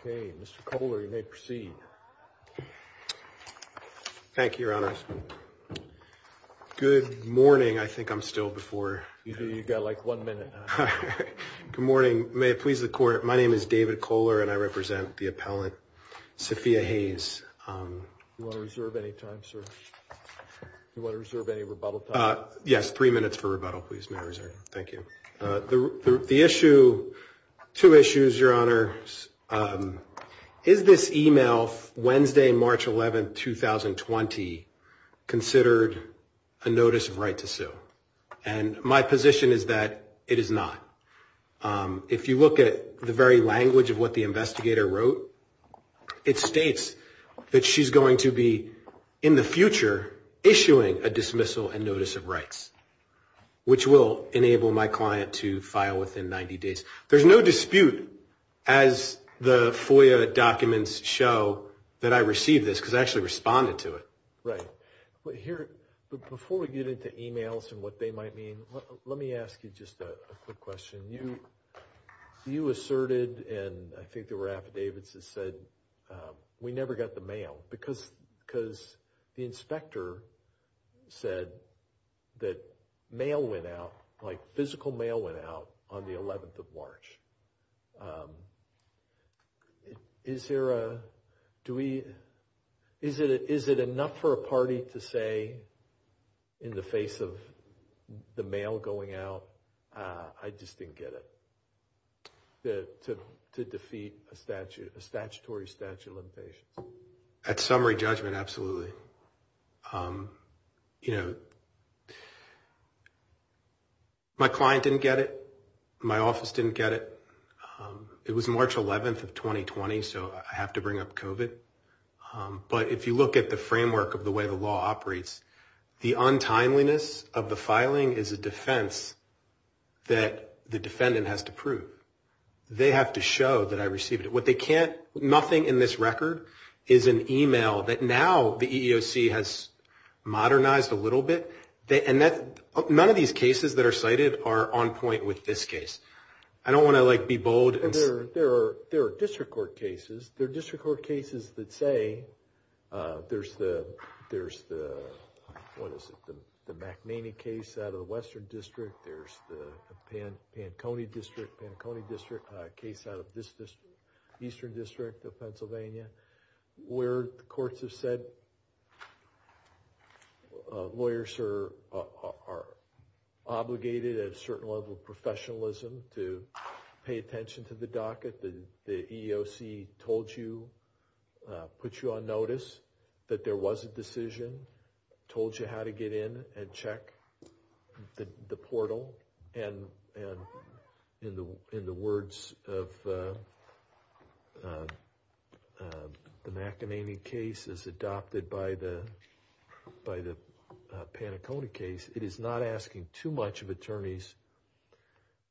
Okay Mr. Kohler you may proceed. Thank you Your Honor. Good morning. I think I'm still before. You've got like one minute. Good morning. May it please the court. My name is David Kohler and I represent the appellant Sophia Hayes. Do you want to reserve any time sir? Do you want to reserve any rebuttal time? Yes, three minutes for rebuttal please may I reserve. Thank you. The issue, two issues Your Honor. Is this email Wednesday, March 11, 2020 considered a notice of right to sue? And my position is that it is not. If you look at the very language of what the investigator wrote, it states that she's going to be in the future issuing a dismissal and notice of rights, which will enable my client to file within 90 days. There's no dispute as the FOIA documents show that I received this because I actually responded to it. Right here, but before we get into emails and what they might mean, let me ask you just a quick question. You asserted and I think there were affidavits that said we never got the mail because because the inspector said that mail went out like physical mail went out on the 11th of March. Is there a, do we, is it, is it enough for a party to say in the face of the mail going out? I just didn't get it. To defeat a statute, a statutory statute of limitations. At summary judgment, absolutely. You know, my client didn't get it. My office didn't get it. It was March 11th of 2020. So I have to bring up COVID. But if you look at the framework of the way the law operates, the untimeliness of the filing is a defense that the defendant has to prove. They have to show that I received it. What they can't, nothing in this record is an email that now the EEOC has modernized a little bit. And that none of these cases that are cited are on point with this case. I don't want to like be bold. There are, there are, there are district court cases. There are district court cases that say there's the, there's the, what is it? The McNaney case out of the Western District. There's the Pan, Panconi District, Panconi District case out of this district, Eastern District of Pennsylvania, where the courts have said lawyers are, are obligated at a certain level of professionalism to pay attention to that. The EEOC told you, put you on notice that there was a decision, told you how to get in and check the portal. And, and in the, in the words of the McNaney case is adopted by the, by the Panaconi case. It is not asking too much of attorneys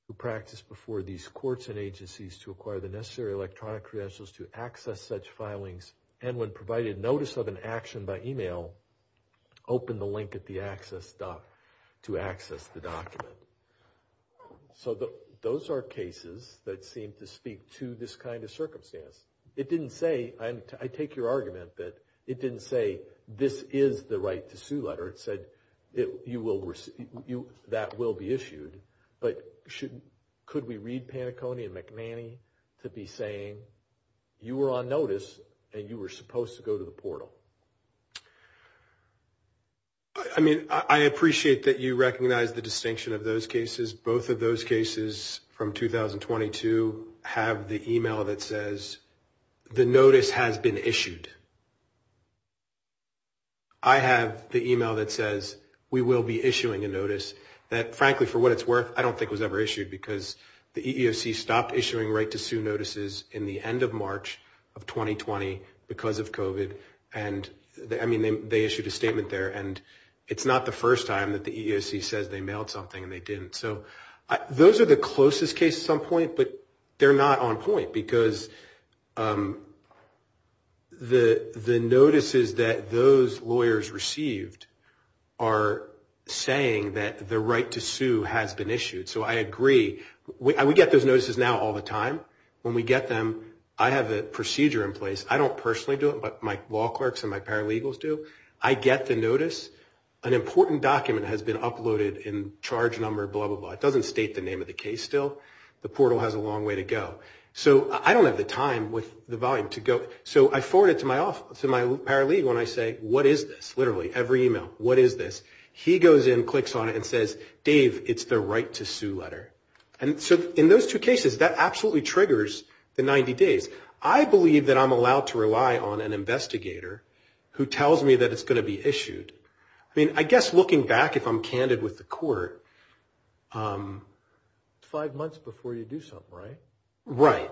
who practice before these courts and agencies to acquire the necessary electronic credentials to access such filings. And when provided notice of an action by email, open the link at the access dot, to access the document. So the, those are cases that seem to speak to this kind of circumstance. It didn't say, I'm, I take your argument that it didn't say this is the right to sue letter. It said it, you will receive, you, that will be issued. But should, could we read Panaconi and McNaney to be saying you were on notice and you were supposed to go to the portal? I mean, I appreciate that you recognize the distinction of those cases. Both of those cases from 2022 have the email that says the notice has been issued. I have the email that says we will be issuing a notice that frankly, for what it's worth, I don't think it was ever issued because the EEOC stopped issuing right to sue notices in the end of March of 2020 because of COVID. And I mean, they, they issued a statement there and it's not the first time that the EEOC says they mailed something and they didn't. So those are the closest cases on point, but they're not on point because the, the notices that those lawyers received are saying that the right to sue has been issued. So I agree. We get those notices now all the time. When we get them, I have a procedure in place. I don't personally do it, but my law clerks and my paralegals do. I get the notice. An important document has been uploaded in charge number, blah, blah, blah. It doesn't state the name of the case still. The portal has a long way to go. So I don't have the time with the volume to go. So I forward it to my, to my paralegal and I say, what is this? Literally every email, what is this? He goes in, clicks on it and says, Dave, it's the right to sue letter. And so in those two cases, that absolutely triggers the 90 days. I believe that I'm allowed to rely on an investigator who tells me that it's going to be issued. I mean, I guess looking back, if I'm candid with the court, five months before you do something, right? Right.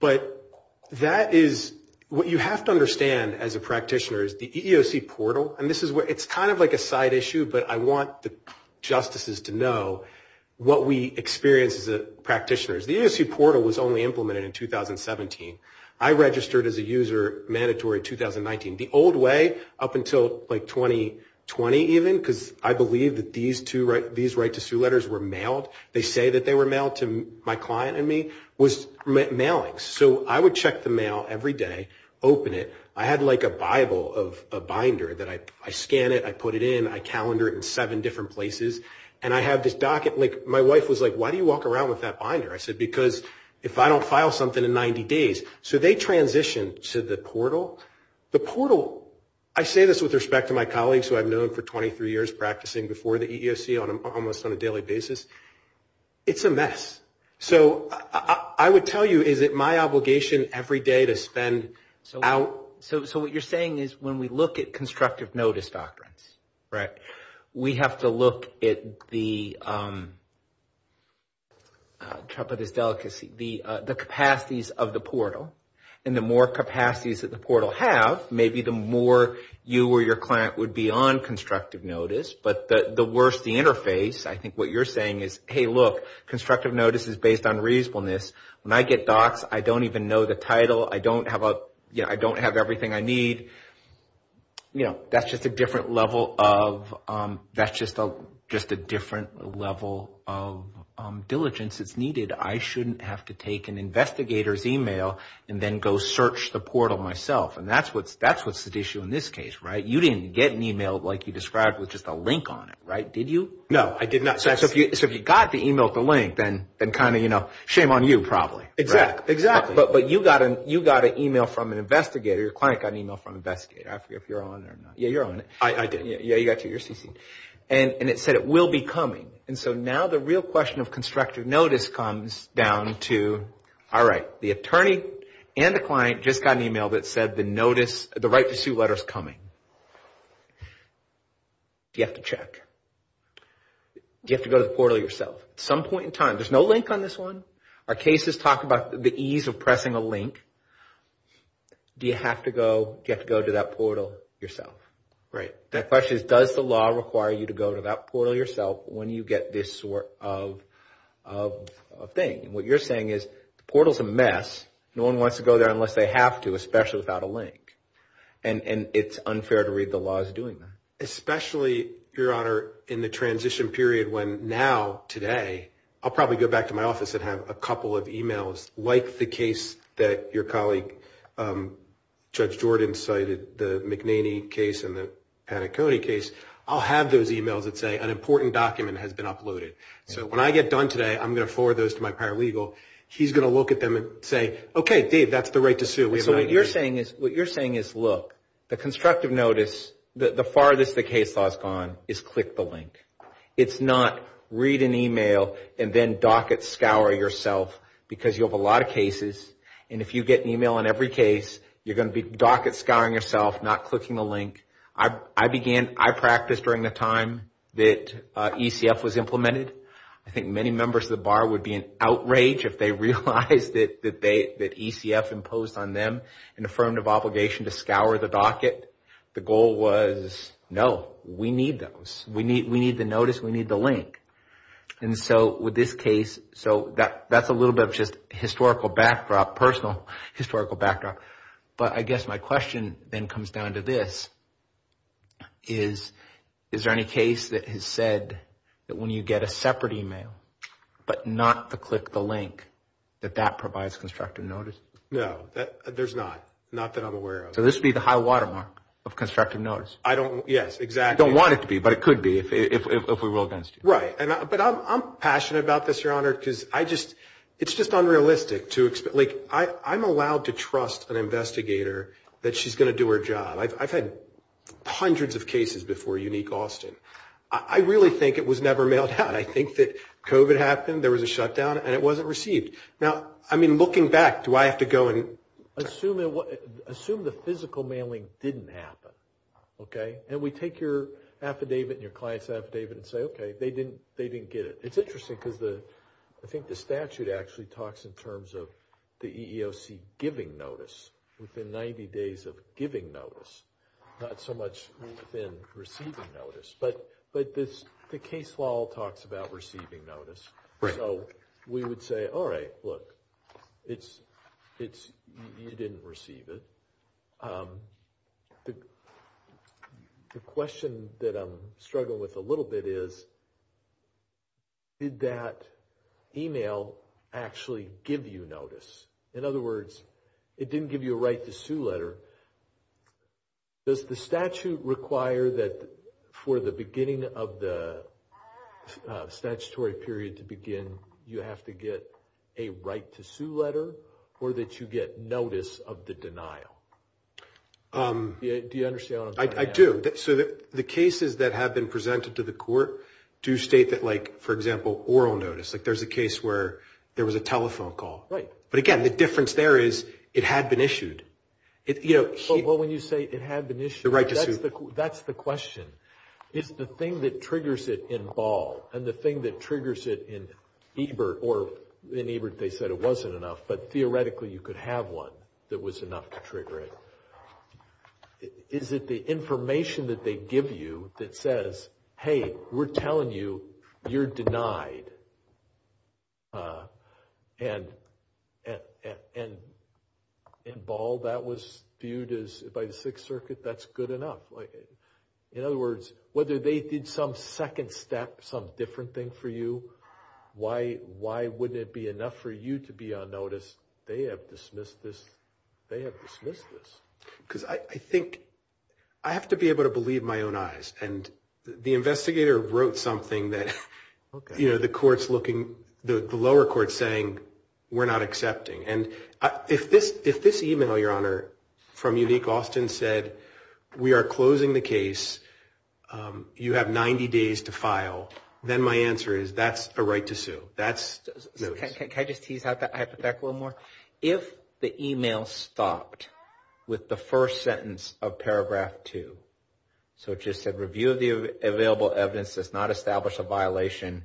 But that is what you have to understand as a practitioner is the EEOC portal. And this is where it's kind of like a side issue. But I want the justices to know what we experience as practitioners. The EEOC portal was only implemented in 2017. I registered as a user mandatory in 2019. The old way up until like 2020 even, because I believe that these two, these right to sue letters were mailed. They say that they were mailed to my client and me, was mailing. So I would check the mail every day, open it. I had like a Bible of a binder that I, I scan it, I put it in, I calendar it in seven different places. And I have this docket, like my wife was like, why do you walk around with that binder? I said, because if I don't file something in 90 days, so they transitioned to the portal. The portal, I say this with respect to my colleagues who I've known for 23 years practicing before the EEOC on almost on a daily basis. It's a mess. So I would tell you, is it my obligation every day to spend out? So what you're saying is when we look at constructive notice doctrines, we have to look at the, the capacities of the portal. And the more capacities that the portal have, maybe the more you or your client would be on constructive notice. But the worst, the interface, I think what you're saying is, hey look, constructive notice is based on reasonableness. When I get docs, I don't even know the title. I don't have a, you know, I don't have everything I need. You know, that's just a different level of, that's just a, just a different level of diligence that's needed. I shouldn't have to take an investigator's email and then go search the portal myself. And that's what's, that's what's at issue in this case, right? You didn't get an email like you described with just a link on it, right? Did you? So if you got the email at the link, then kind of, you know, shame on you probably. But you got an email from an investigator. Your client got an email from an investigator. I forget if you're on it or not. Yeah, you're on it. Do you have to go to the portal yourself? At some point in time, there's no link on this one. Our cases talk about the ease of pressing a link. Do you have to go, do you have to go to that portal yourself? Right. That question is, does the law require you to go to that portal yourself when you get this sort of thing? And what you're saying is, the portal's a mess. No one wants to go there unless they have to, especially without a link. And it's unfair to read the laws doing that. Especially, Your Honor, in the transition period when now, today, I'll probably go back to my office and have a couple of emails like the case that your colleague Judge Jordan cited, the McNaney case and the Panaconi case. I'll have those emails that say an important document has been uploaded. So when I get done today, I'm going to forward those to my paralegal. He's going to look at them and say, okay, Dave, that's the right to sue. We have an agreement. I think many members of the bar would be in outrage if they realized that ECF imposed on them an affirmative obligation to scour the docket. The goal was, no, we need those. We need the notice. We need the link. And so with this case, so that's a little bit of just historical backdrop, personal historical backdrop. But I guess my question then comes down to this. Is there any case that has said that when you get a separate email, but not to click the link, that that provides constructive notice? No, there's not. Not that I'm aware of. So this would be the high watermark of constructive notice? I don't, yes, exactly. You don't want it to be, but it could be if we rule against you. Right. But I'm passionate about this, Your Honor, because I just, it's just unrealistic to, like, I'm allowed to trust an investigator that she's going to do her job. I've had hundreds of cases before Unique Austin. I really think it was never mailed out. I think that COVID happened, there was a shutdown, and it wasn't received. Now, I mean, looking back, do I have to go and... Assume the physical mailing didn't happen, okay? And we take your affidavit and your client's affidavit and say, okay, they didn't get it. It's interesting because the, I think the statute actually talks in terms of the EEOC giving notice within 90 days of giving notice, not so much within receiving notice. But the case law talks about receiving notice. Right. You have to get a right to sue letter or that you get notice of the denial. Do you understand what I'm saying? I do. So the cases that have been presented to the court do state that, like, for example, oral notice. Like, there's a case where there was a telephone call. Right. But again, the difference there is it had been issued. Well, when you say it had been issued... The right to sue. That's the question. Is the thing that triggers it in Ball and the thing that triggers it in Ebert, or in Ebert they said it wasn't enough, but theoretically you could have one that was enough to trigger it. Is it the information that they give you that says, hey, we're telling you you're denied? And in Ball that was viewed as, by the Sixth Circuit, that's good enough. In other words, whether they did some second step, some different thing for you, why wouldn't it be enough for you to be on notice? They have dismissed this. Because I think, I have to be able to believe my own eyes. And the investigator wrote something that, you know, the lower court's saying we're not accepting. And if this email, Your Honor, from Unique Austin said we are closing the case, you have 90 days to file, then my answer is that's a right to sue. That's notice. Can I just tease out that hypothetical more? If the email stopped with the first sentence of paragraph two, so it just said review of the available evidence does not establish a violation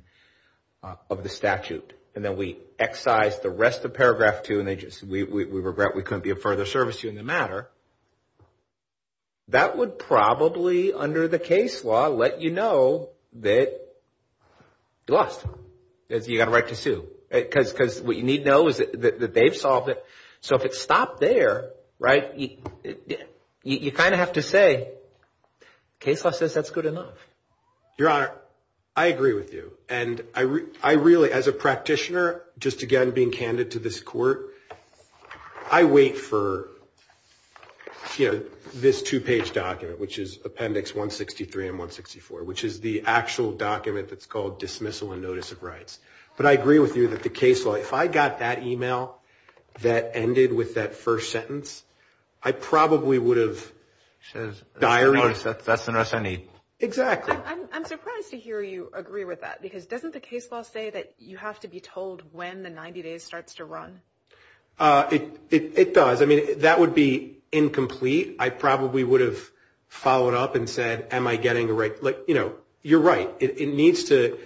of the statute, and then we excise the rest of paragraph two and we regret we couldn't be of further service to you in the matter, that would probably, under the case law, let you know that you lost. You got a right to sue. Because what you need to know is that they've solved it. So if it stopped there, right, you kind of have to say, case law says that's good enough. Your Honor, I agree with you. And I really, as a practitioner, just again being candid to this court, I wait for, you know, this two-page document, which is appendix 163 and 164, which is the actual document that's called dismissal and notice of rights. But I agree with you that the case law, if I got that email that ended with that first sentence, I probably would have diary. That's the notice I need. Exactly. I'm surprised to hear you agree with that, because doesn't the case law say that you have to be told when the 90 days starts to run? It does. I mean, that would be incomplete. I probably would have followed up and said, am I getting a right? You're right. It needs to,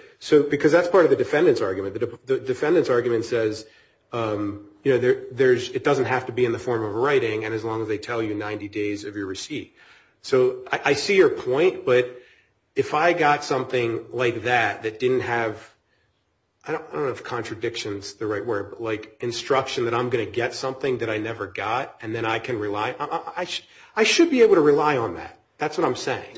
because that's part of the defendant's argument. The defendant's argument says it doesn't have to be in the form of writing, and as long as they tell you 90 days of your receipt. So I see your point, but if I got something like that that didn't have, I don't know if contradiction is the right word, but like instruction that I'm going to get something that I never got, and then I can rely, I should be able to rely on that. That's what I'm saying.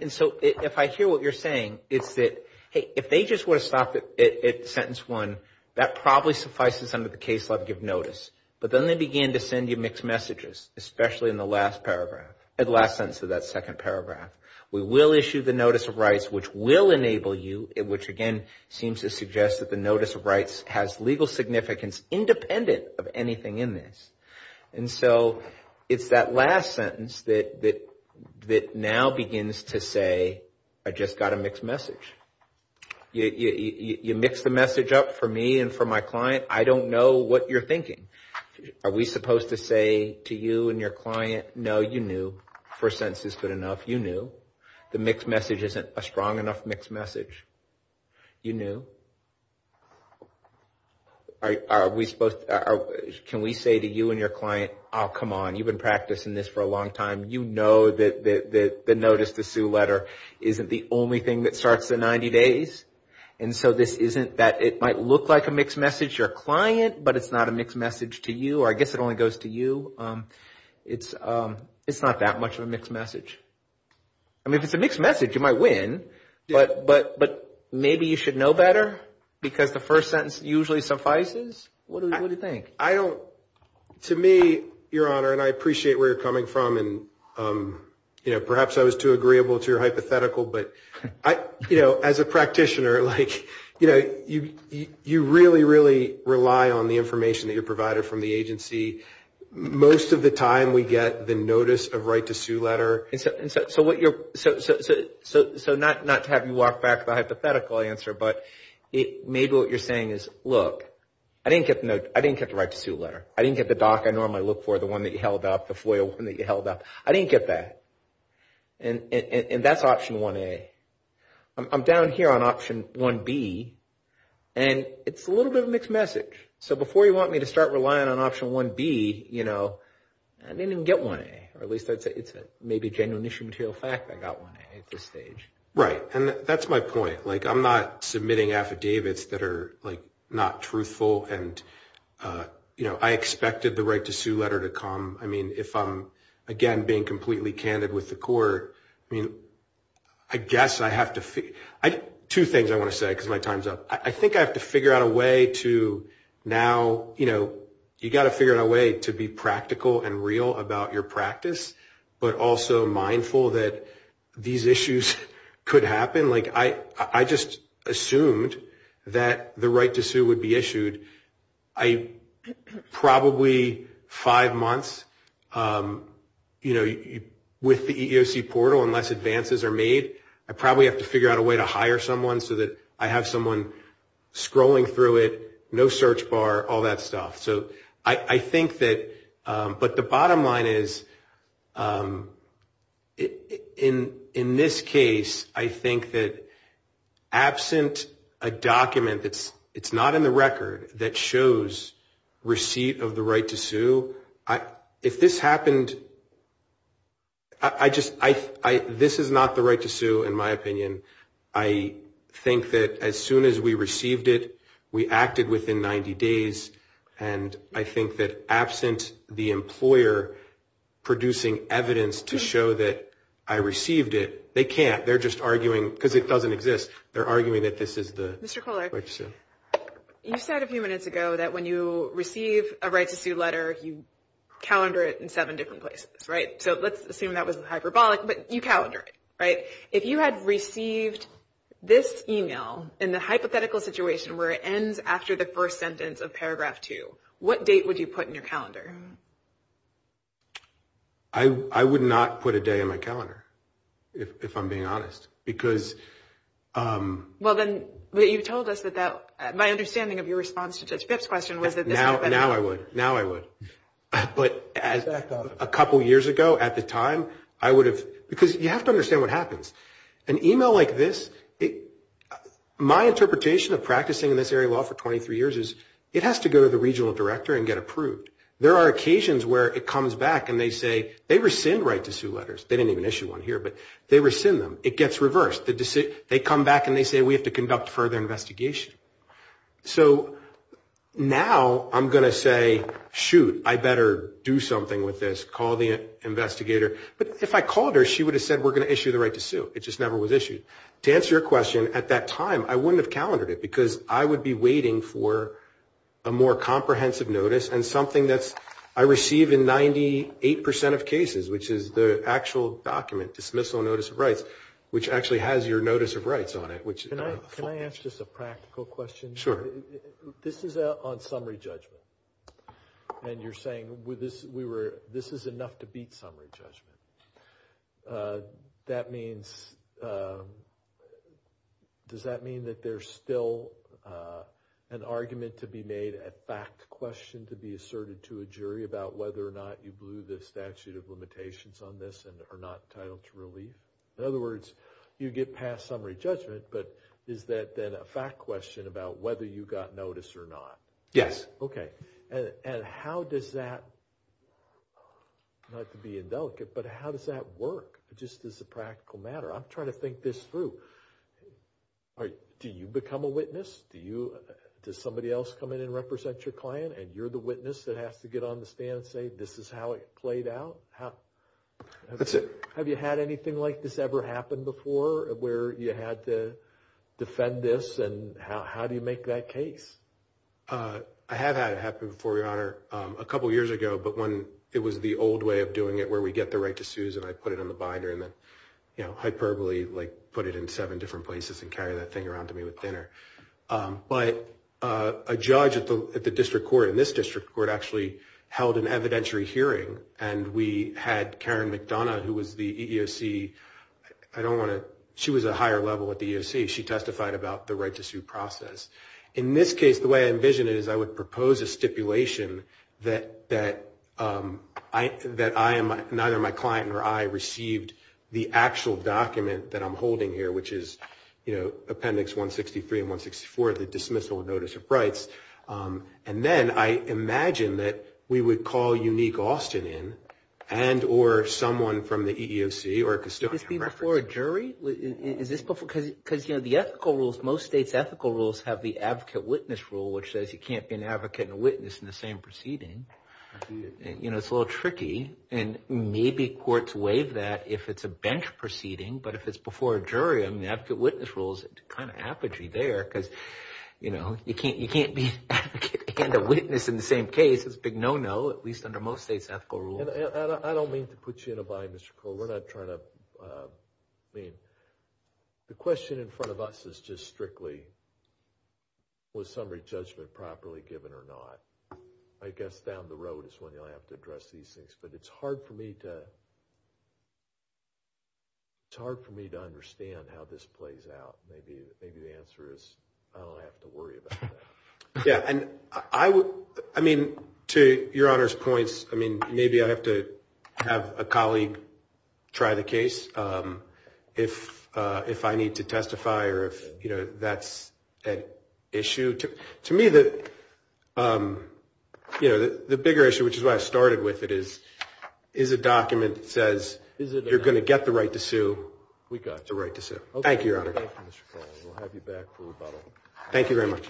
And so if I hear what you're saying, it's that, hey, if they just would have stopped at sentence one, that probably suffices under the case law to give notice. But then they begin to send you mixed messages, especially in the last paragraph, the last sentence of that second paragraph. We will issue the notice of rights, which will enable you, which again seems to suggest that the notice of rights has legal significance independent of anything in this. And so it's that last sentence that now begins to say, I just got a mixed message. You mixed the message up for me and for my client. I don't know what you're thinking. Are we supposed to say to you and your client, no, you knew, first sentence is good enough, you knew. The mixed message isn't a strong enough mixed message. You knew. Are we supposed – can we say to you and your client, oh, come on, you've been practicing this for a long time. You know that the notice to sue letter isn't the only thing that starts the 90 days. And so this isn't that it might look like a mixed message to your client, but it's not a mixed message to you, or I guess it only goes to you. It's not that much of a mixed message. I mean, if it's a mixed message, you might win, but maybe you should know better because the first sentence usually suffices. What do you think? To me, Your Honor, and I appreciate where you're coming from, and perhaps I was too agreeable to your hypothetical, but as a practitioner, you really, really rely on the information that you're provided from the agency. Most of the time, we get the notice of right to sue letter. So not to have you walk back the hypothetical answer, but maybe what you're saying is, look, I didn't get the right to sue letter. I didn't get the doc I normally look for, the one that you held up, the FOIA one that you held up. I didn't get that. And that's option 1A. I'm down here on option 1B, and it's a little bit of a mixed message. So before you want me to start relying on option 1B, you know, I didn't even get 1A, or at least I'd say it's maybe a genuine issue material fact I got 1A at this stage. Right, and that's my point. Like, I'm not submitting affidavits that are, like, not truthful, and, you know, I expected the right to sue letter to come. I mean, if I'm, again, being completely candid with the court, I mean, I guess I have to figure... Two things I want to say because my time's up. I think I have to figure out a way to now, you know, you've got to figure out a way to be practical and real about your practice, but also mindful that these issues could happen. Like, I just assumed that the right to sue would be issued probably five months with the EEOC portal unless advances are made. I probably have to figure out a way to hire someone so that I have someone scrolling through it, no search bar, all that stuff. So I think that... But the bottom line is, in this case, I think that absent a document that's not in the record that shows receipt of the right to sue, if this happened... This is not the right to sue, in my opinion. I think that as soon as we received it, we acted within 90 days, and I think that absent the employer producing evidence to show that I received it, they can't. They're just arguing because it doesn't exist. They're arguing that this is the right to sue. Mr. Kohler, you said a few minutes ago that when you receive a right to sue letter, you calendar it in seven different places, right? So let's assume that was hyperbolic, but you calendar it, right? If you had received this email in the hypothetical situation where it ends after the first sentence of paragraph two, what date would you put in your calendar? I would not put a day in my calendar, if I'm being honest, because... Well, then, but you told us that that... My understanding of your response to Judge Phipps' question was that this... Yeah, now I would, now I would. But a couple years ago, at the time, I would have... Because you have to understand what happens. An email like this, my interpretation of practicing in this area of law for 23 years is it has to go to the regional director and get approved. There are occasions where it comes back and they say, they rescind right to sue letters. They didn't even issue one here, but they rescind them. It gets reversed. They come back and they say, we have to conduct further investigation. So now I'm going to say, shoot, I better do something with this, call the investigator. But if I called her, she would have said, we're going to issue the right to sue. It just never was issued. To answer your question, at that time, I wouldn't have calendared it because I would be waiting for a more comprehensive notice and something that's... I received in 98% of cases, which is the actual document, dismissal notice of rights, which actually has your notice of rights on it. Can I ask just a practical question? Sure. This is on summary judgment. And you're saying this is enough to beat summary judgment. Does that mean that there's still an argument to be made, a fact question to be asserted to a jury about whether or not you blew the statute of limitations on this and are not entitled to relief? In other words, you get past summary judgment, but is that then a fact question about whether you got notice or not? Yes. Okay. And how does that, not to be indelicate, but how does that work? Just as a practical matter. I'm trying to think this through. Do you become a witness? Does somebody else come in and represent your client and you're the witness that has to get on the stand and say, this is how it played out? That's it. Have you had anything like this ever happen before where you had to defend this? And how do you make that case? I have had it happen before, Your Honor, a couple of years ago. But when it was the old way of doing it, where we get the right to sue, and I put it on the binder and then hyperbole put it in seven different places and carry that thing around to me with dinner. But a judge at the district court, in this district court, actually held an evidentiary hearing. And we had Karen McDonough, who was the EEOC, I don't want to, she was a higher level at the EEOC. She testified about the right to sue process. In this case, the way I envisioned it is I would propose a stipulation that I am, neither my client nor I received the actual document that I'm holding here, which is appendix 163 and 164, the dismissal notice of rights. And then I imagine that we would call Unique Austin in and or someone from the EEOC or a custodian. Is this before a jury? Because the ethical rules, most states' ethical rules have the advocate witness rule, which says you can't be an advocate and a witness in the same proceeding. It's a little tricky. And maybe courts waive that if it's a bench proceeding. But if it's before a jury, I mean, the advocate witness rule is kind of apogee there. Because, you know, you can't be an advocate and a witness in the same case. It's a big no-no, at least under most states' ethical rules. And I don't mean to put you in a bind, Mr. Cole. We're not trying to, I mean, the question in front of us is just strictly was summary judgment properly given or not. I guess down the road is when you'll have to address these things. But it's hard for me to, it's hard for me to understand how this plays out. Maybe the answer is I don't have to worry about that. Yeah. And I would, I mean, to Your Honor's points, I mean, maybe I have to have a colleague try the case if I need to testify or if, you know, that's an issue. To me, the, you know, the bigger issue, which is why I started with it, is a document that says you're going to get the right to sue. We got the right to sue. Thank you, Your Honor. We'll have you back for rebuttal. Thank you very much.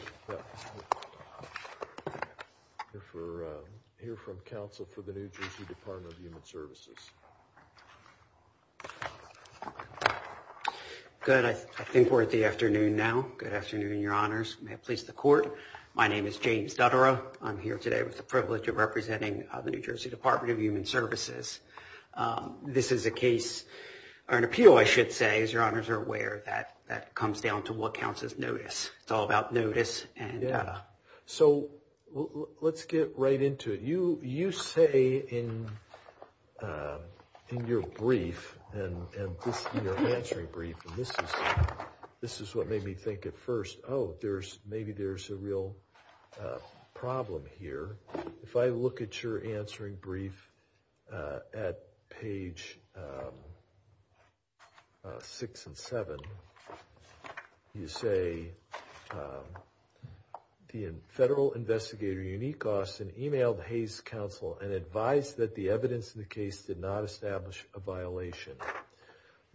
We'll hear from counsel for the New Jersey Department of Human Services. Good. I think we're at the afternoon now. Good afternoon, Your Honors. May it please the Court. My name is James Duttara. I'm here today with the privilege of representing the New Jersey Department of Human Services. This is a case, or an appeal, I should say, as Your Honors are aware, that comes down to what counts as notice. It's all about notice. Yeah. So let's get right into it. You say in your brief, and this, you know, answering brief, and this is what made me think at first, oh, there's, maybe there's a real issue here. There's a real problem here. If I look at your answering brief at page 6 and 7, you say, the federal investigator, Unique Austin, emailed Hays Council and advised that the evidence in the case did not establish a violation.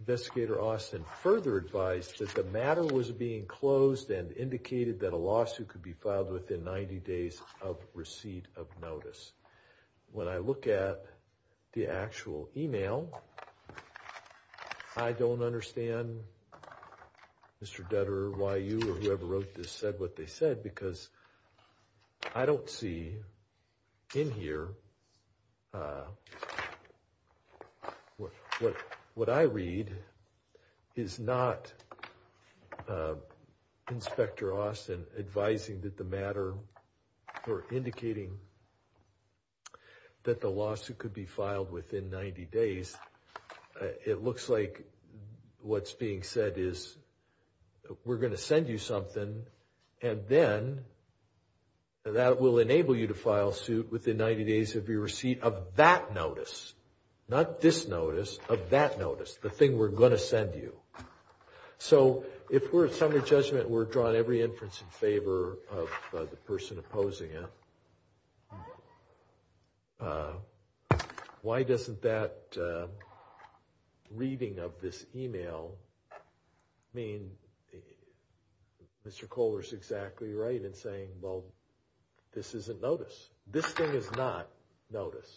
Investigator Austin further advised that the matter was being closed and indicated that a lawsuit could be filed within 90 days of receipt of notice. When I look at the actual email, I don't understand, Mr. Duttara, why you or whoever wrote this said what they said. Because I don't see in here, what I read is not Inspector Austin advising that the matter, or indicating that the lawsuit could be filed within 90 days. It looks like what's being said is, we're going to send you something, and then that will enable you to file suit within 90 days of your receipt of that notice. Not this notice, of that notice, the thing we're going to send you. So, if we're at summary judgment, we're drawing every inference in favor of the person opposing it, why doesn't that reading of this email mean Mr. Kohler's exactly right in saying, well, this isn't notice. This thing is not notice.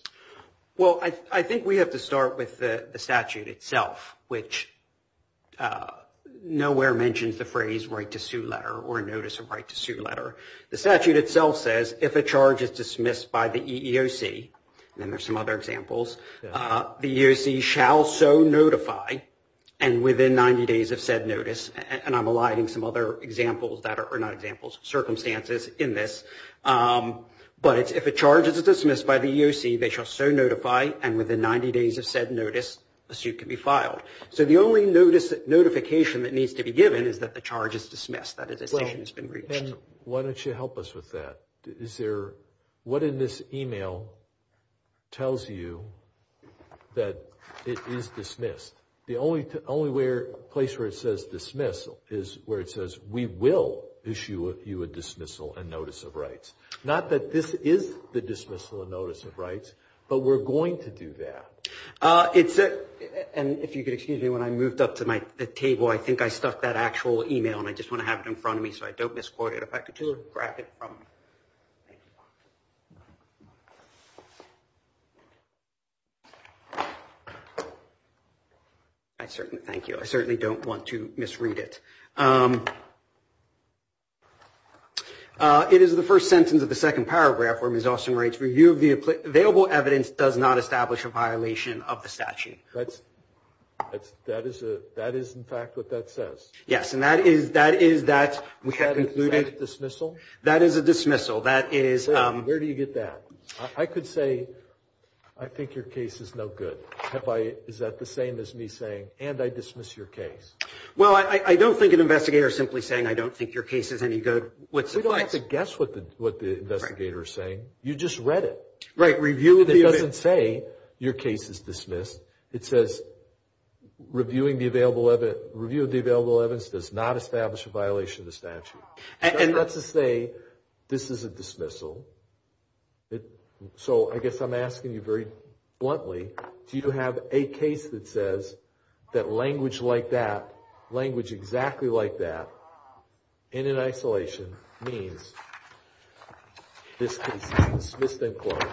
Well, I think we have to start with the statute itself, which nowhere mentions the phrase right to sue letter, or notice of right to sue letter. The statute itself says, if a charge is dismissed by the EEOC, and there's some other examples, the EEOC shall so notify, and within 90 days of said notice, and I'm eliding some other examples that are not examples, circumstances in this, but if a charge is dismissed by the EEOC, they shall so notify, and within 90 days of said notice, a suit can be filed. So, the only notification that needs to be given is that the charge is dismissed, that a decision has been reached. Well, then, why don't you help us with that? Is there, what in this email tells you that it is dismissed? The only place where it says dismissal is where it says, we will issue you a dismissal and notice of rights. Not that this is the dismissal and notice of rights, but we're going to do that. It's a, and if you could excuse me, when I moved up to my table, I think I stuck that actual email, and I just want to have it in front of me so I don't misquote it. If I could just grab it from, thank you. Thank you. I certainly don't want to misread it. It is the first sentence of the second paragraph where Ms. Austin writes, review of the available evidence does not establish a violation of the statute. That is in fact what that says. Yes, and that is that we have concluded. Is that a dismissal? That is a dismissal. That is. Where do you get that? I could say, I think your case is no good. Is that the same as me saying, and I dismiss your case? Well, I don't think an investigator is simply saying, I don't think your case is any good. We don't have to guess what the investigator is saying. You just read it. Right, review of the. It doesn't say, your case is dismissed. It says, review of the available evidence does not establish a violation of the statute. And that's to say, this is a dismissal. So I guess I'm asking you very bluntly, do you have a case that says that language like that, language exactly like that, in an isolation, means this case is dismissed and closed?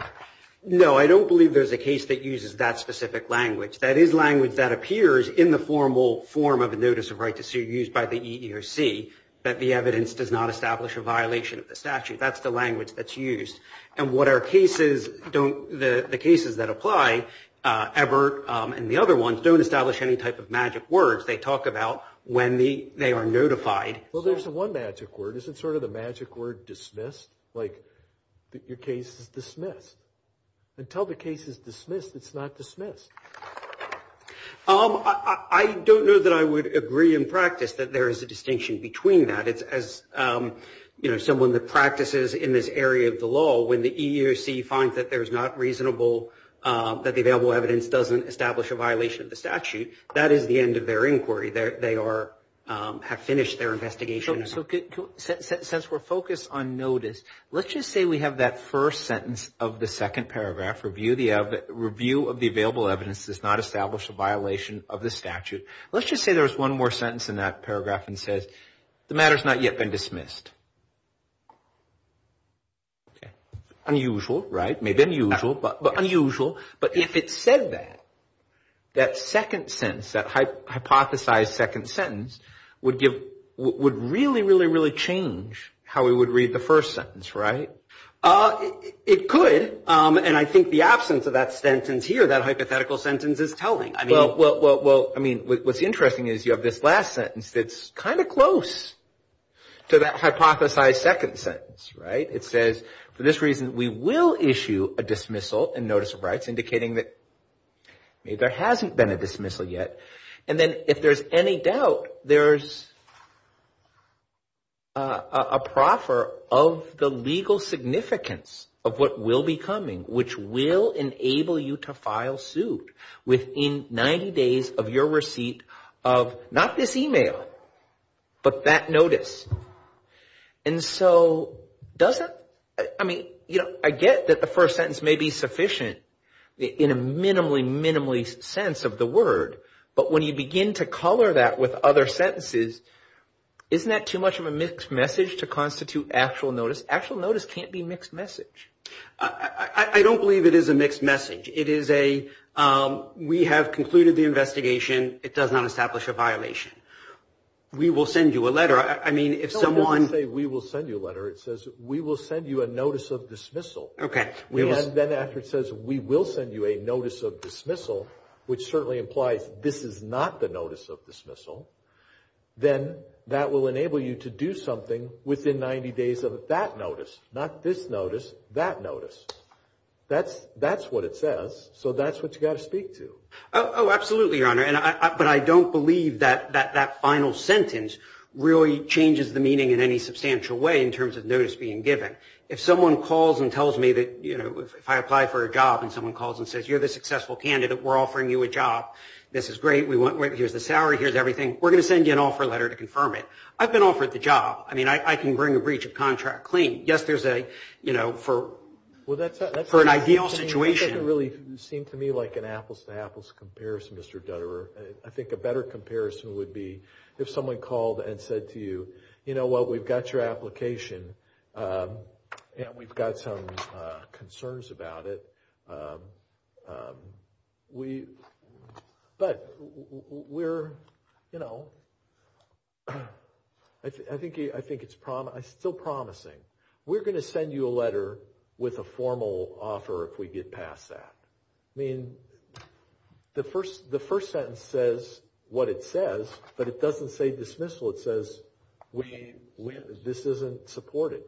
No, I don't believe there's a case that uses that specific language. That is language that appears in the formal form of a notice of right to sue used by the EEOC, that the evidence does not establish a violation of the statute. That's the language that's used. And what our cases don't, the cases that apply, Everett and the other ones, don't establish any type of magic words. They talk about when they are notified. Well, there's one magic word. Is it sort of the magic word dismissed? Like, your case is dismissed. Until the case is dismissed, it's not dismissed. I don't know that I would agree in practice that there is a distinction between that. As someone that practices in this area of the law, when the EEOC finds that there is not reasonable, that the available evidence doesn't establish a violation of the statute, that is the end of their inquiry. They are, have finished their investigation. So since we're focused on notice, let's just say we have that first sentence of the second paragraph, review of the available evidence does not establish a violation of the statute. Let's just say there's one more sentence in that paragraph and says, the matter has not yet been dismissed. Unusual, right? Maybe unusual, but unusual. But if it said that, that second sentence, that hypothesized second sentence would give, would really, really, really change how we would read the first sentence, right? It could. And I think the absence of that sentence here, that hypothetical sentence is telling. Well, I mean, what's interesting is you have this last sentence that's kind of close to that hypothesized second sentence, right? It says, for this reason, we will issue a dismissal and notice of rights, indicating that there hasn't been a dismissal yet. And then if there's any doubt, there's a proffer of the legal significance of what will be coming, which will enable you to file suit within 90 days of your receipt of not this email, but that notice. And so does that, I mean, you know, I get that the first sentence may be sufficient in a minimally, minimally sense of the word. But when you begin to color that with other sentences, isn't that too much of a mixed message to constitute actual notice? Actual notice can't be mixed message. I don't believe it is a mixed message. It is a, we have concluded the investigation. It does not establish a violation. We will send you a letter. I mean, if someone. It doesn't say we will send you a letter. It says we will send you a notice of dismissal. Okay. And then after it says we will send you a notice of dismissal, which certainly implies this is not the notice of dismissal, then that will enable you to do something within 90 days of that notice. Not this notice, that notice. That's what it says. So that's what you've got to speak to. Oh, absolutely, Your Honor. But I don't believe that that final sentence really changes the meaning in any substantial way in terms of notice being given. If someone calls and tells me that, you know, if I apply for a job and someone calls and says you're the successful candidate, we're offering you a job, this is great. Here's the salary. Here's everything. We're going to send you an offer letter to confirm it. I've been offered the job. I mean, I can bring a breach of contract clean. Yes, there's a, you know, for an ideal situation. It doesn't really seem to me like an apples-to-apples comparison, Mr. Dutterer. I think a better comparison would be if someone called and said to you, you know what, we've got your application and we've got some concerns about it. But we're, you know, I think it's still promising. We're going to send you a letter with a formal offer if we get past that. I mean, the first sentence says what it says, but it doesn't say dismissal. It says this isn't supported.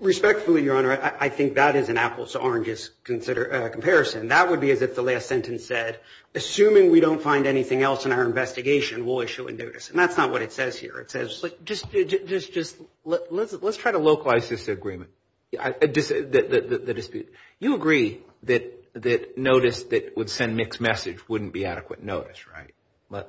Respectfully, Your Honor, I think that is an apples-to-oranges comparison. That would be as if the last sentence said, assuming we don't find anything else in our investigation, we'll issue a notice. And that's not what it says here. It says just let's try to localize this agreement, the dispute. You agree that notice that would send mixed message wouldn't be adequate notice, right?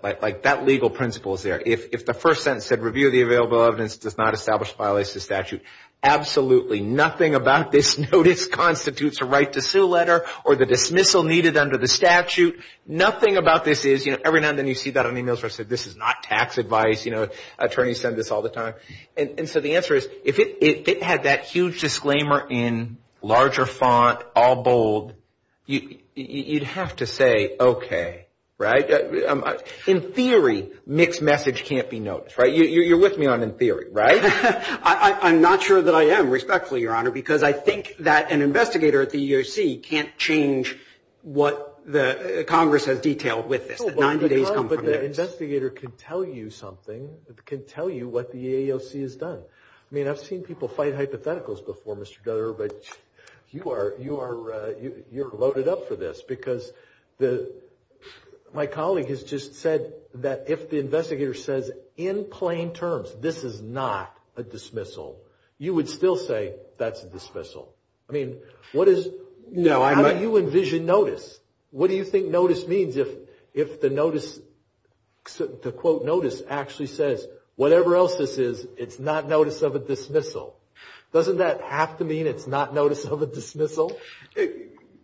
Like that legal principle is there. If the first sentence said review the available evidence, does not establish, violates the statute, absolutely nothing about this notice constitutes a right to sue letter or the dismissal needed under the statute. Nothing about this is, you know, every now and then you see that on e-mails where it says this is not tax advice. You know, attorneys send this all the time. And so the answer is if it had that huge disclaimer in larger font, all bold, you'd have to say okay, right? In theory, mixed message can't be noticed, right? You're with me on in theory, right? I'm not sure that I am, respectfully, Your Honor, because I think that an investigator at the EEOC can't change what Congress has detailed with this. But the investigator can tell you something, can tell you what the EEOC has done. I mean, I've seen people fight hypotheticals before, Mr. Dutter, but you are loaded up for this, because my colleague has just said that if the investigator says in plain terms this is not a dismissal, you would still say that's a dismissal. I mean, what is, how do you envision notice? What do you think notice means if the notice, to quote notice, actually says whatever else this is, it's not notice of a dismissal? Doesn't that have to mean it's not notice of a dismissal?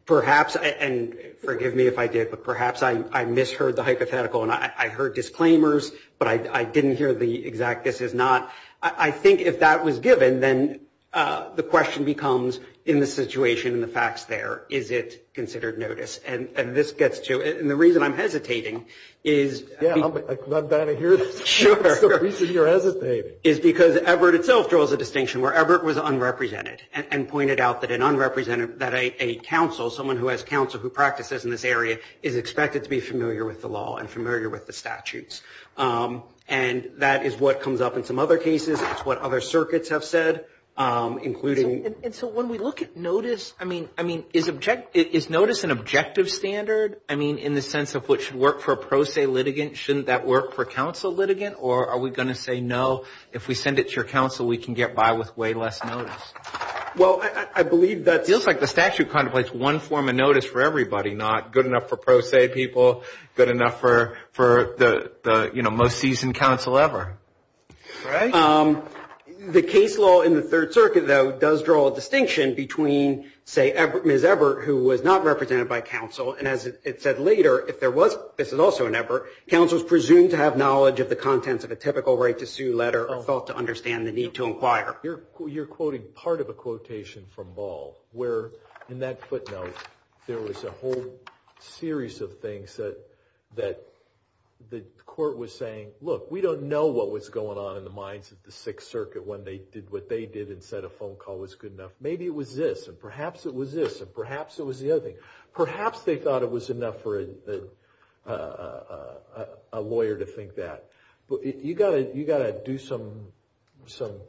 Perhaps, and forgive me if I did, but perhaps I misheard the hypothetical and I heard disclaimers, but I didn't hear the exact this is not. I think if that was given, then the question becomes in the situation and the facts there, is it considered notice? And this gets to, and the reason I'm hesitating is. Yeah, I'm glad to hear this. Sure. The reason you're hesitating. Is because Everett itself draws a distinction where Everett was unrepresented and pointed out that an unrepresented, that a counsel, someone who has counsel who practices in this area, is expected to be familiar with the law and familiar with the statutes. And that is what comes up in some other cases. It's what other circuits have said, including. And so when we look at notice, I mean, is notice an objective standard? I mean, in the sense of what should work for a pro se litigant, shouldn't that work for a counsel litigant? Or are we going to say no, if we send it to your counsel, we can get by with way less notice? Well, I believe that. It feels like the statute contemplates one form of notice for everybody, not good enough for pro se people, good enough for the, you know, most seasoned counsel ever. Right. The case law in the Third Circuit, though, does draw a distinction between, say, Ms. Everett, who was not represented by counsel, and as it said later, if there was, this is also an Everett, counsel is presumed to have knowledge of the contents of a typical right to sue letter or felt to understand the need to inquire. You're quoting part of a quotation from Ball where, in that footnote, there was a whole series of things that the court was saying, look, we don't know what was going on in the minds of the Sixth Circuit when they did what they did and said a phone call was good enough. Maybe it was this, and perhaps it was this, and perhaps it was the other thing. Perhaps they thought it was enough for a lawyer to think that. But you've got to do some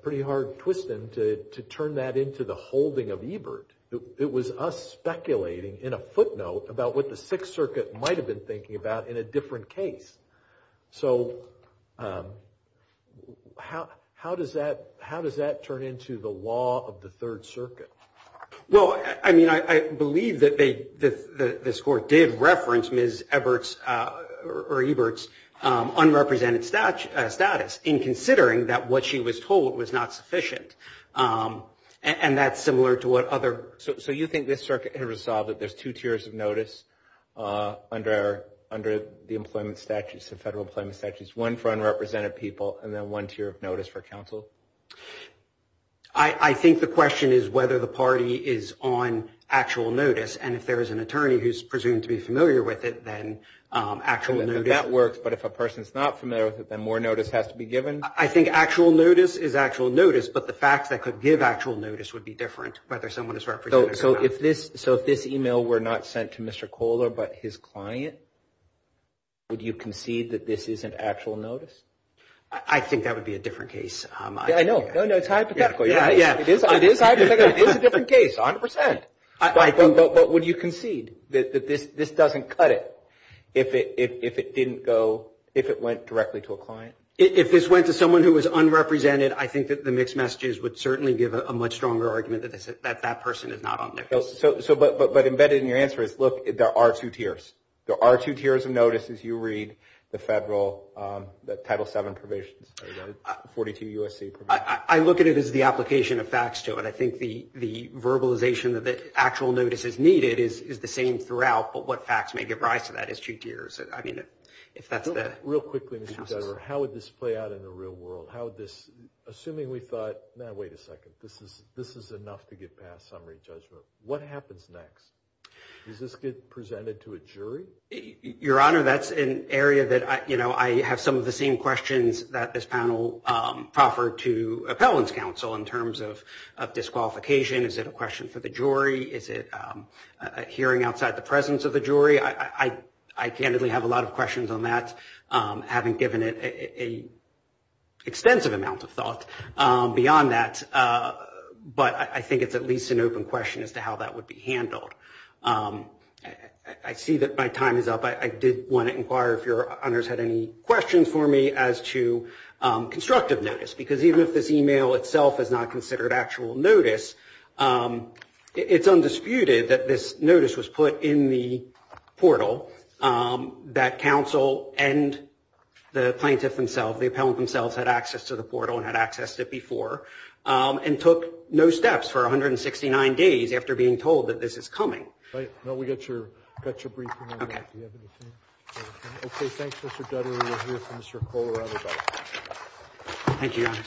pretty hard twisting to turn that into the holding of Ebert. It was us speculating in a footnote about what the Sixth Circuit might have been thinking about in a different case. So how does that turn into the law of the Third Circuit? Well, I mean, I believe that this court did reference Ms. Ebert's unrepresented status in considering that what she was told was not sufficient. And that's similar to what other – So you think this circuit had resolved that there's two tiers of notice under the employment statutes, the federal employment statutes, one for unrepresented people, and then one tier of notice for counsel? I think the question is whether the party is on actual notice, and if there is an attorney who's presumed to be familiar with it, then actual notice – And whether that works, but if a person's not familiar with it, then more notice has to be given? I think actual notice is actual notice, but the facts that could give actual notice would be different whether someone is represented or not. So if this email were not sent to Mr. Kohler but his client, would you concede that this is an actual notice? I think that would be a different case. Yeah, I know. No, no, it's hypothetical. Yeah, yeah. It is hypothetical. It is a different case, 100%. But would you concede that this doesn't cut it if it didn't go – if it went directly to a client? If this went to someone who was unrepresented, I think that the mixed messages would certainly give a much stronger argument that that person is not on there. But embedded in your answer is, look, there are two tiers. There are two tiers of notice as you read the federal Title VII provisions, the 42 U.S.C. provisions. I look at it as the application of facts to it. I think the verbalization that the actual notice is needed is the same throughout, but what facts may give rise to that is two tiers. Real quickly, Mr. Kohler, how would this play out in the real world? Assuming we thought, now wait a second, this is enough to get past summary judgment, what happens next? Does this get presented to a jury? Your Honor, that's an area that I have some of the same questions that this panel proffered to appellants' counsel in terms of disqualification. Is it a question for the jury? Is it a hearing outside the presence of the jury? I candidly have a lot of questions on that. I haven't given it an extensive amount of thought beyond that, but I think it's at least an open question as to how that would be handled. I see that my time is up. I did want to inquire if your honors had any questions for me as to constructive notice, because even if this email itself is not considered actual notice, it's undisputed that this notice was put in the portal that counsel and the plaintiff themselves, the appellant themselves, had access to the portal and had access to it before and took no steps for 169 days after being told that this is coming. No, we got your briefing on that. Do you have anything? Okay, thanks, Mr. Dudley. We'll hear from Mr. Kohler on this item. Thank you, your honors.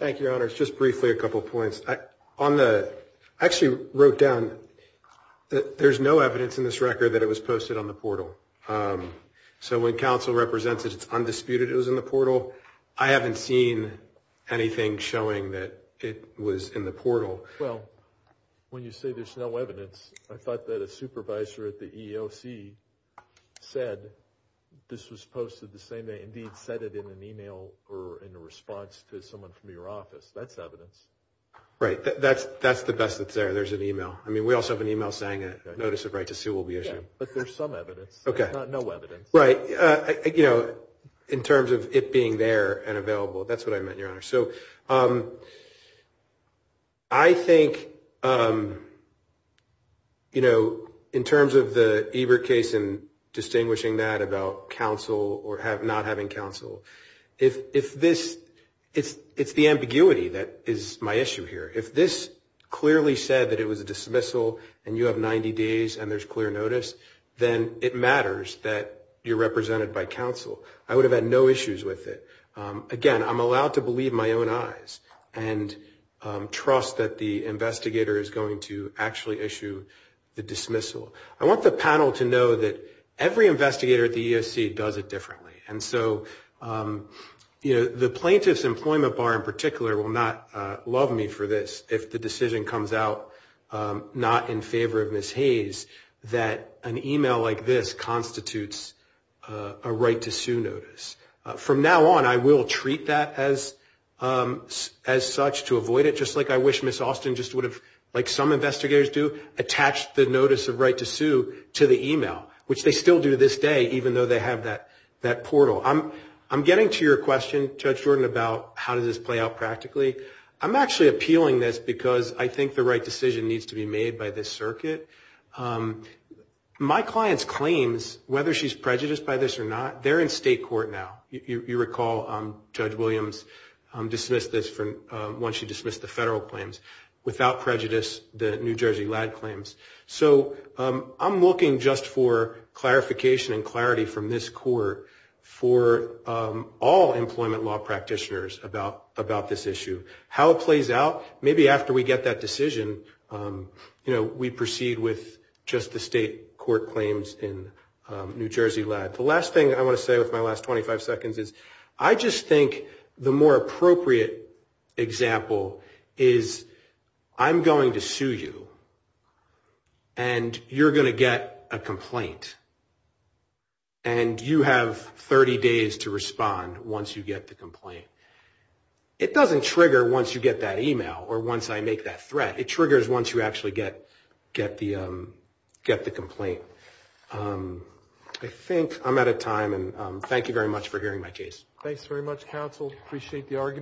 Thank you, your honors. Just briefly a couple of points. I actually wrote down that there's no evidence in this record that it was posted on the portal. So when counsel represents it, it's undisputed it was in the portal. I haven't seen anything showing that it was in the portal. Well, when you say there's no evidence, I thought that a supervisor at the EEOC said this was posted the same day. Indeed, said it in an email or in a response to someone from your office. That's evidence. Right. That's the best that's there. There's an email. I mean, we also have an email saying a notice of right to sue will be issued. But there's some evidence. There's no evidence. Right. You know, in terms of it being there and available, that's what I meant, your honors. So I think, you know, in terms of the Ebert case and distinguishing that about counsel or not having counsel, if this – it's the ambiguity that is my issue here. If this clearly said that it was a dismissal and you have 90 days and there's clear notice, then it matters that you're represented by counsel. I would have had no issues with it. Again, I'm allowed to believe my own eyes and trust that the investigator is going to actually issue the dismissal. I want the panel to know that every investigator at the EEOC does it differently. And so, you know, the plaintiff's employment bar in particular will not love me for this if the decision comes out not in favor of Ms. Hayes that an email like this constitutes a right to sue notice. From now on, I will treat that as such to avoid it, just like I wish Ms. Austin just would have, like some investigators do, attached the notice of right to sue to the email, which they still do to this day even though they have that portal. I'm getting to your question, Judge Jordan, about how does this play out practically. I'm actually appealing this because I think the right decision needs to be made by this circuit. My client's claims, whether she's prejudiced by this or not, they're in state court now. You recall Judge Williams dismissed this once she dismissed the federal claims. Without prejudice, the New Jersey lad claims. So I'm looking just for clarification and clarity from this court for all employment law practitioners about this issue. How it plays out, maybe after we get that decision, you know, we proceed with just the state court claims in New Jersey lad. The last thing I want to say with my last 25 seconds is I just think the more appropriate example is I'm going to sue you and you're going to get a complaint. And you have 30 days to respond once you get the complaint. It doesn't trigger once you get that email or once I make that threat. It triggers once you actually get the complaint. I think I'm out of time, and thank you very much for hearing my case. Thanks very much, counsel. Appreciate the argument.